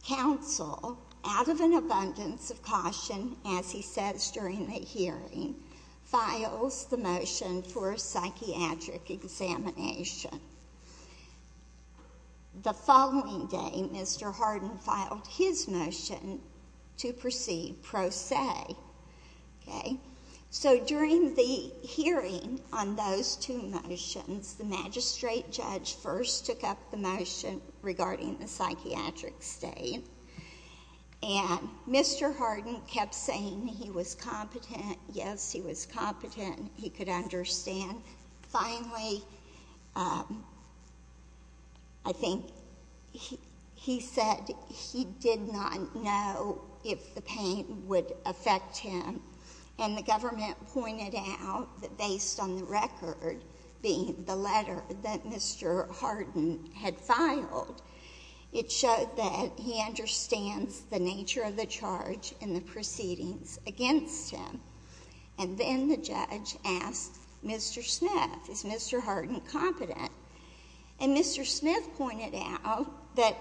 counsel, out of an abundance of caution, as he says during the hearing, files the motion for a psychiatric examination. The following day, Mr. Harden filed his motion to proceed pro se. So during the hearing on those two motions, the magistrate judge first took up the motion regarding the psychiatric state. And Mr. Harden kept saying he was competent, yes, he was competent, he could understand. Finally, I think he said he did not know if the pain would affect him. And the government pointed out that based on the record, the letter that Mr. Harden had filed, it showed that he understands the nature of the charge and the proceedings against him. And then the judge asked Mr. Smith, is Mr. Harden competent? And Mr. Smith pointed out that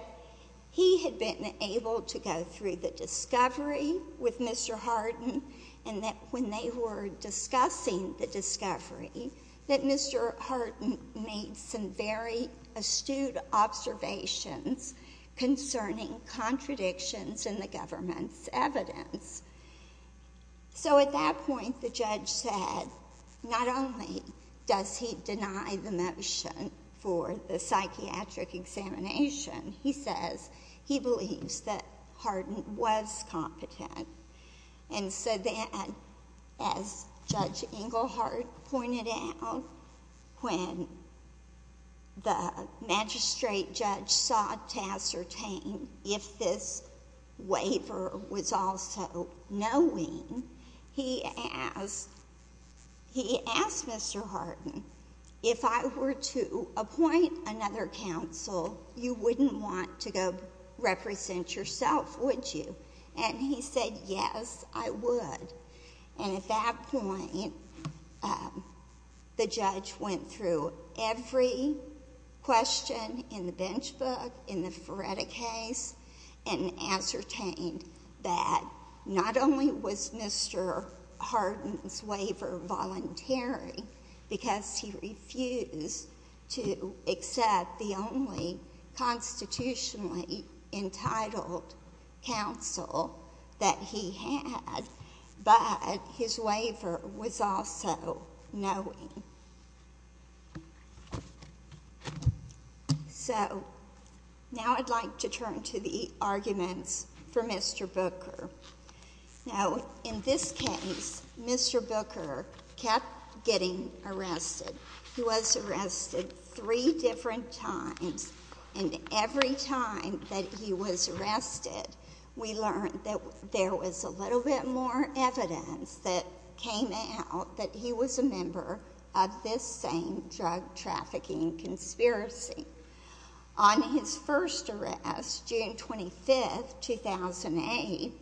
he had been able to go through the discovery with Mr. Harden, and that when they were discussing the discovery, that Mr. Harden made some very astute observations concerning contradictions in the government's evidence. So at that point, the judge said not only does he deny the motion for the psychiatric examination, he says he believes that Harden was competent. And so then, as Judge Engelhardt pointed out, when the magistrate judge sought to ascertain if this waiver was also knowing, he asked Mr. Harden, if I were to appoint another counsel, you wouldn't want to go represent yourself, would you? And he said, yes, I would. And at that point, the judge went through every question in the bench book, in the Feretta case, and ascertained that not only was Mr. Harden's waiver voluntary, because he refused to accept the only constitutionally entitled counsel that he had, but his waiver was also knowing. So now I'd like to turn to the arguments for Mr. Booker. Now, in this case, Mr. Booker kept getting arrested. He was arrested three different times, and every time that he was arrested, we learned that there was a little bit more evidence that came out that he was a member of this same drug trafficking conspiracy. On his first arrest, June 25, 2008,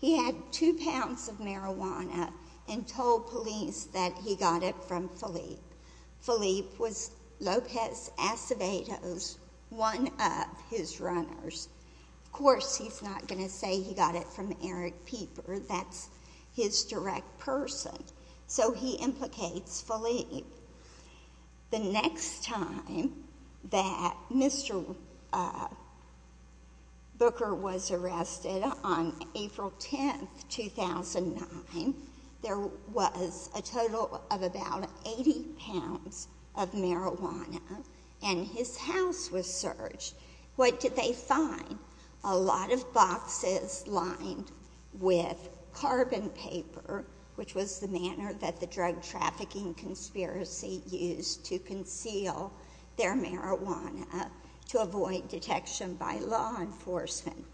he had two pounds of marijuana and told police that he got it from Philippe. Philippe was Lopez Acevedo's one of his runners. Of course, he's not going to say he got it from Eric Pieper. That's his direct person. So he implicates Philippe. The next time that Mr. Booker was arrested, on April 10, 2009, there was a total of about 80 pounds of marijuana, and his house was searched. What did they find? A lot of boxes lined with carbon paper, which was the manner that the drug trafficking conspiracy used to conceal their marijuana to avoid detection by law enforcement.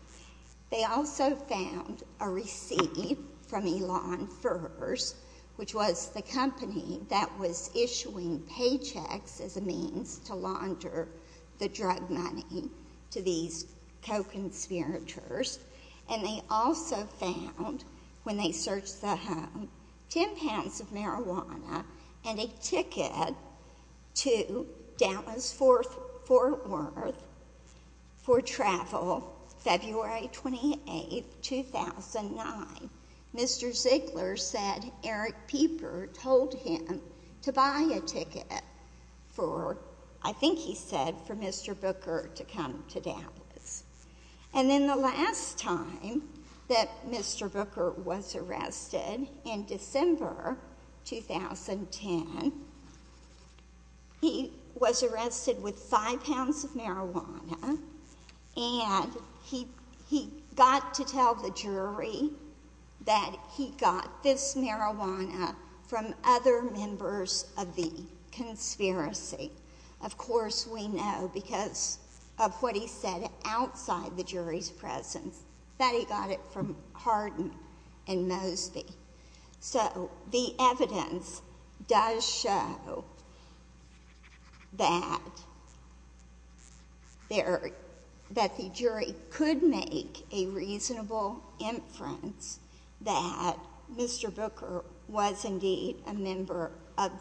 They also found a receipt from Elon Furze, which was the company that was issuing paychecks as a means to launder the drug money to these co-conspirators. And they also found, when they searched the home, 10 pounds of marijuana and a ticket to Dallas-Fort Worth for travel, February 28, 2009. Mr. Ziegler said Eric Pieper told him to buy a ticket for, I think he said, for Mr. Booker to come to Dallas. And then the last time that Mr. Booker was arrested, in December 2010, he was arrested with five pounds of marijuana, and he got to tell the jury that he got this marijuana from other members of the conspiracy. Of course we know, because of what he said outside the jury's presence, that he got it from Hardin and Mosby. So the evidence does show that the jury could make a reasonable inference that Mr. Booker was indeed a member of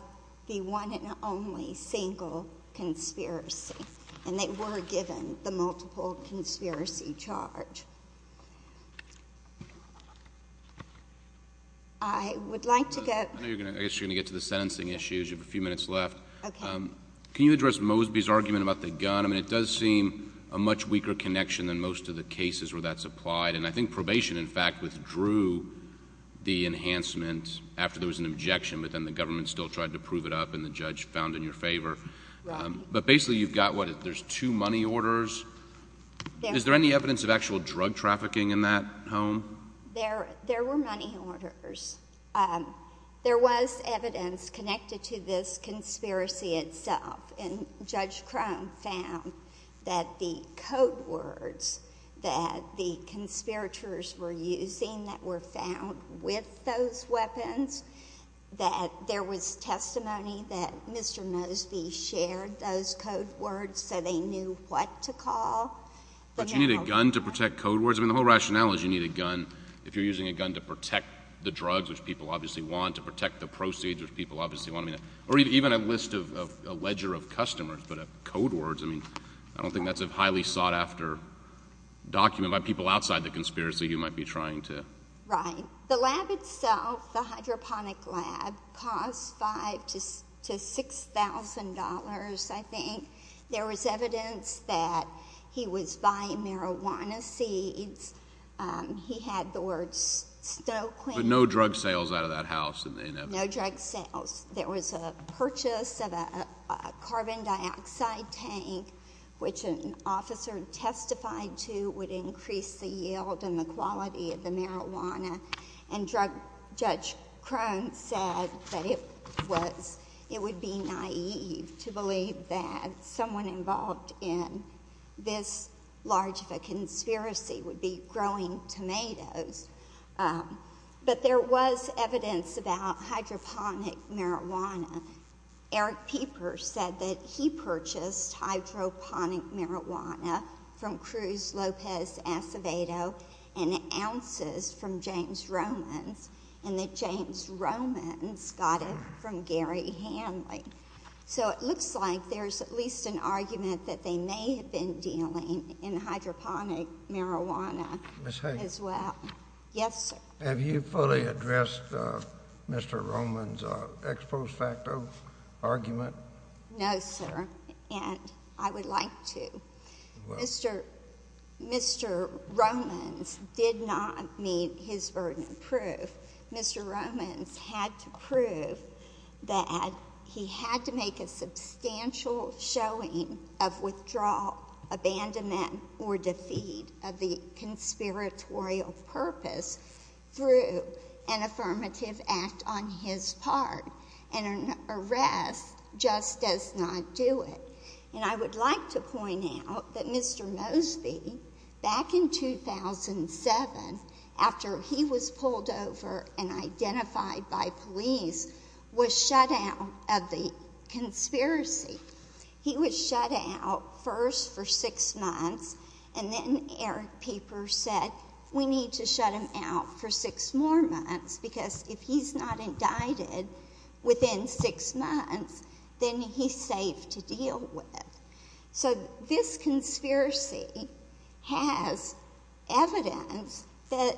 the one and only single conspiracy. And they were given the multiple conspiracy charge. I guess you're going to get to the sentencing issues. You have a few minutes left. Can you address Mosby's argument about the gun? I mean, it does seem a much weaker connection than most of the cases where that's applied. And I think probation, in fact, withdrew the enhancement after there was an objection, but then the government still tried to prove it up and the judge found in your favor. But basically you've got, what, there's two money orders? Is there any evidence of actual drug trafficking in that home? There were money orders. There was evidence connected to this conspiracy itself, and Judge Crone found that the code words that the conspirators were using that were found with those weapons, that there was testimony that Mr. Mosby shared those code words so they knew what to call. But you need a gun to protect code words? I mean, the whole rationale is you need a gun. If you're using a gun to protect the drugs, which people obviously want, to protect the proceeds, which people obviously want, I mean, or even a list of a ledger of customers, but code words, I mean, I don't think that's a highly sought-after document by people outside the conspiracy who might be trying to. Right. The lab itself, the hydroponic lab, cost $5,000 to $6,000, I think. There was evidence that he was buying marijuana seeds. He had the words Stoquin. But no drug sales out of that house in evidence? No drug sales. There was a purchase of a carbon dioxide tank, which an officer testified to would increase the yield and the quality of the marijuana. And Judge Crone said that it would be naive to believe that someone involved in this large of a conspiracy would be growing tomatoes. But there was evidence about hydroponic marijuana. Eric Peeper said that he purchased hydroponic marijuana from Cruz Lopez Acevedo and ounces from James Romans, and that James Romans got it from Gary Hanley. So it looks like there's at least an argument that they may have been dealing in hydroponic marijuana as well. Ms. Hager. Yes, sir. Have you fully addressed Mr. Romans' ex post facto argument? No, sir, and I would like to. Mr. Romans did not meet his burden of proof. Mr. Romans had to prove that he had to make a substantial showing of withdrawal, abandonment, or defeat of the conspiratorial purpose through an affirmative act on his part. And an arrest just does not do it. And I would like to point out that Mr. Mosby, back in 2007, after he was pulled over and identified by police, was shut out of the conspiracy. He was shut out first for six months, and then Eric Peeper said, we need to shut him out for six more months because if he's not indicted within six months, then he's safe to deal with. So this conspiracy has evidence that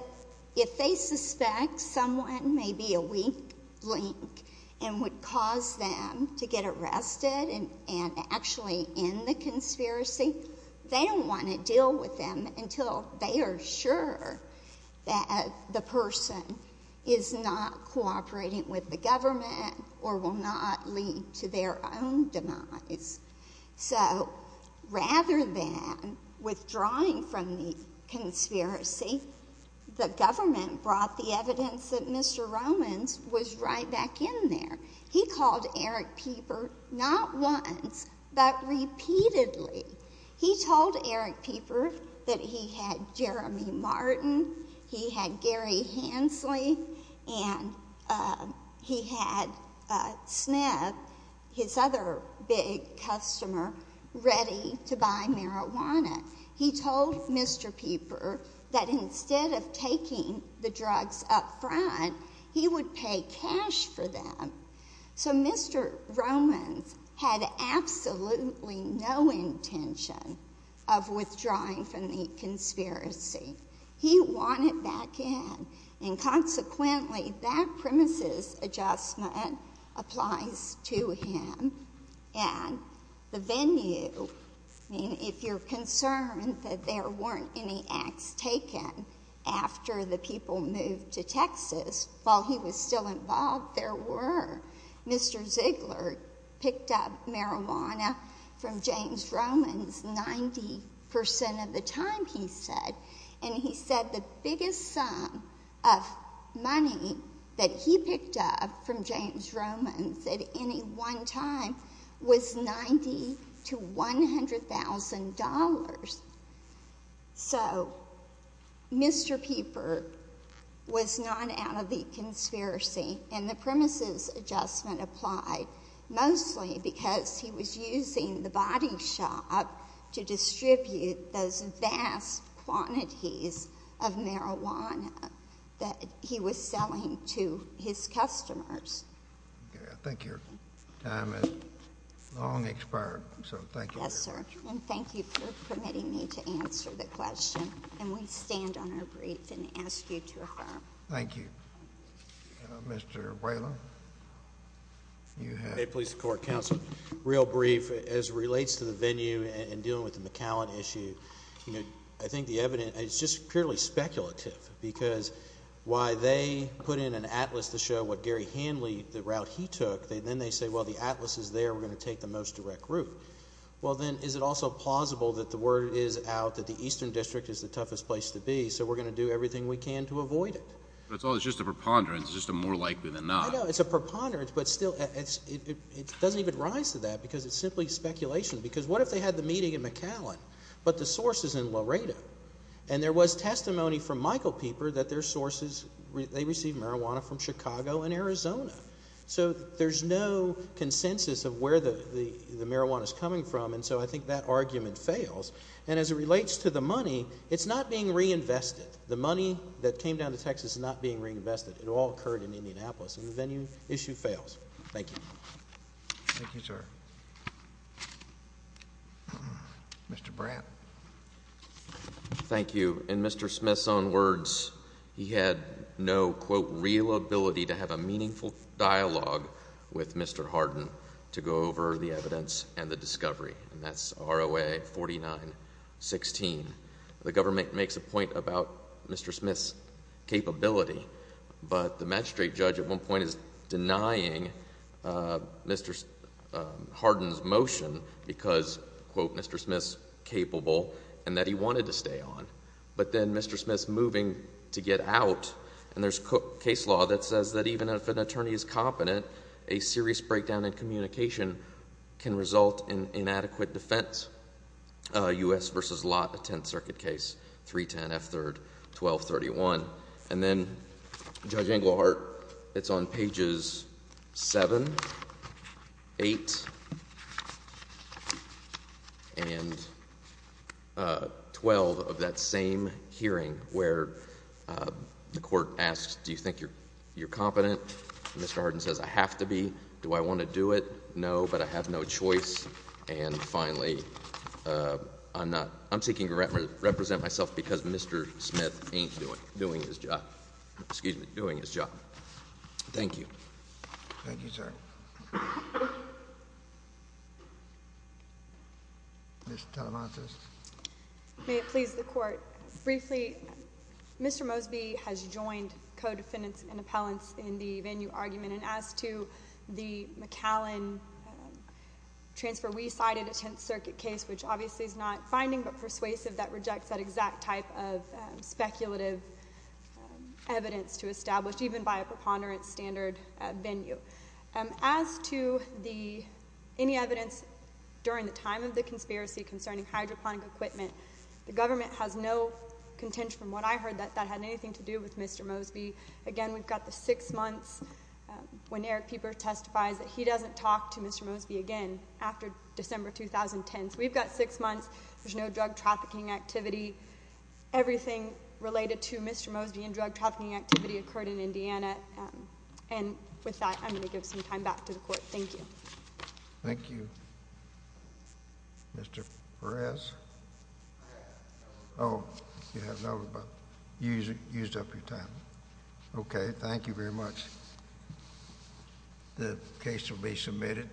if they suspect someone may be a weak link and would cause them to get arrested and actually end the conspiracy, they don't want to deal with them until they are sure that the person is not cooperating with the government or will not lead to their own demise. So rather than withdrawing from the conspiracy, the government brought the evidence that Mr. Romans was right back in there. He called Eric Peeper not once but repeatedly. He told Eric Peeper that he had Jeremy Martin, he had Gary Hensley, and he had Smith, his other big customer, ready to buy marijuana. He told Mr. Peeper that instead of taking the drugs up front, he would pay cash for them. So Mr. Romans had absolutely no intention of withdrawing from the conspiracy. He wanted back in, and consequently, that premises adjustment applies to him. The venue, if you're concerned that there weren't any acts taken after the people moved to Texas, while he was still involved, there were. Mr. Ziegler picked up marijuana from James Romans 90% of the time, he said, and he said the biggest sum of money that he picked up from James Romans at any one time was $90,000 to $100,000. So Mr. Peeper was not out of the conspiracy, and the premises adjustment applied, mostly because he was using the body shop to distribute those vast quantities of marijuana that he was selling to his customers. I think your time has long expired, so thank you very much. Yes, sir, and thank you for permitting me to answer the question. And we stand on our brief and ask you to affirm. Thank you. Mr. Whalen, you have. May it please the Court, Counsel. Real brief, as it relates to the venue and dealing with the McAllen issue, I think the evidence is just purely speculative because why they put in an atlas to show what Gary Hanley, the route he took, then they say, well, the atlas is there, we're going to take the most direct route. Well, then, is it also plausible that the word is out that the Eastern District is the toughest place to be, so we're going to do everything we can to avoid it? Well, it's just a preponderance. It's just a more likely than not. I know. It's a preponderance, but still it doesn't even rise to that because it's simply speculation because what if they had the meeting at McAllen, but the source is in Laredo, and there was testimony from Michael Pieper that their sources, they received marijuana from Chicago and Arizona. So there's no consensus of where the marijuana is coming from, and so I think that argument fails. And as it relates to the money, it's not being reinvested. The money that came down to Texas is not being reinvested. It all occurred in Indianapolis, and the venue issue fails. Thank you. Thank you, sir. Mr. Bratt. Thank you. In Mr. Smith's own words, he had no, quote, real ability to have a meaningful dialogue with Mr. Hardin to go over the evidence and the discovery, and that's ROA 4916. The government makes a point about Mr. Smith's capability, but the magistrate judge at one point is denying Mr. Hardin's motion because, quote, Mr. Smith's capable and that he wanted to stay on. But then Mr. Smith's moving to get out, and there's case law that says that even if an attorney is competent, a serious breakdown in communication can result in inadequate defense. U.S. v. Lott, the Tenth Circuit case, 310 F. 3rd, 1231. And then Judge Englehart, it's on pages 7, 8, and 12 of that same hearing where the court asks, do you think you're competent? Mr. Hardin says, I have to be. Do I want to do it? No, but I have no choice. And finally, I'm not. I'm seeking to represent myself because Mr. Smith ain't doing his job. Excuse me, doing his job. Thank you. Thank you, sir. Ms. Talamantes. May it please the Court. Briefly, Mr. Mosby has joined co-defendants and appellants in the venue argument, and as to the McAllen transfer, we cited a Tenth Circuit case, which obviously is not finding but persuasive that rejects that exact type of speculative evidence to establish even by a preponderance standard venue. As to any evidence during the time of the conspiracy concerning hydroponic equipment, the government has no contention from what I heard that that had anything to do with Mr. Mosby. Again, we've got the six months when Eric Pieper testifies that he doesn't talk to Mr. Mosby again, after December 2010. So we've got six months. There's no drug trafficking activity. Everything related to Mr. Mosby and drug trafficking activity occurred in Indiana. And with that, I'm going to give some time back to the Court. Thank you. Thank you. Mr. Perez. Oh, you have nothing, but you used up your time. Okay. Thank you very much. The case will be submitted.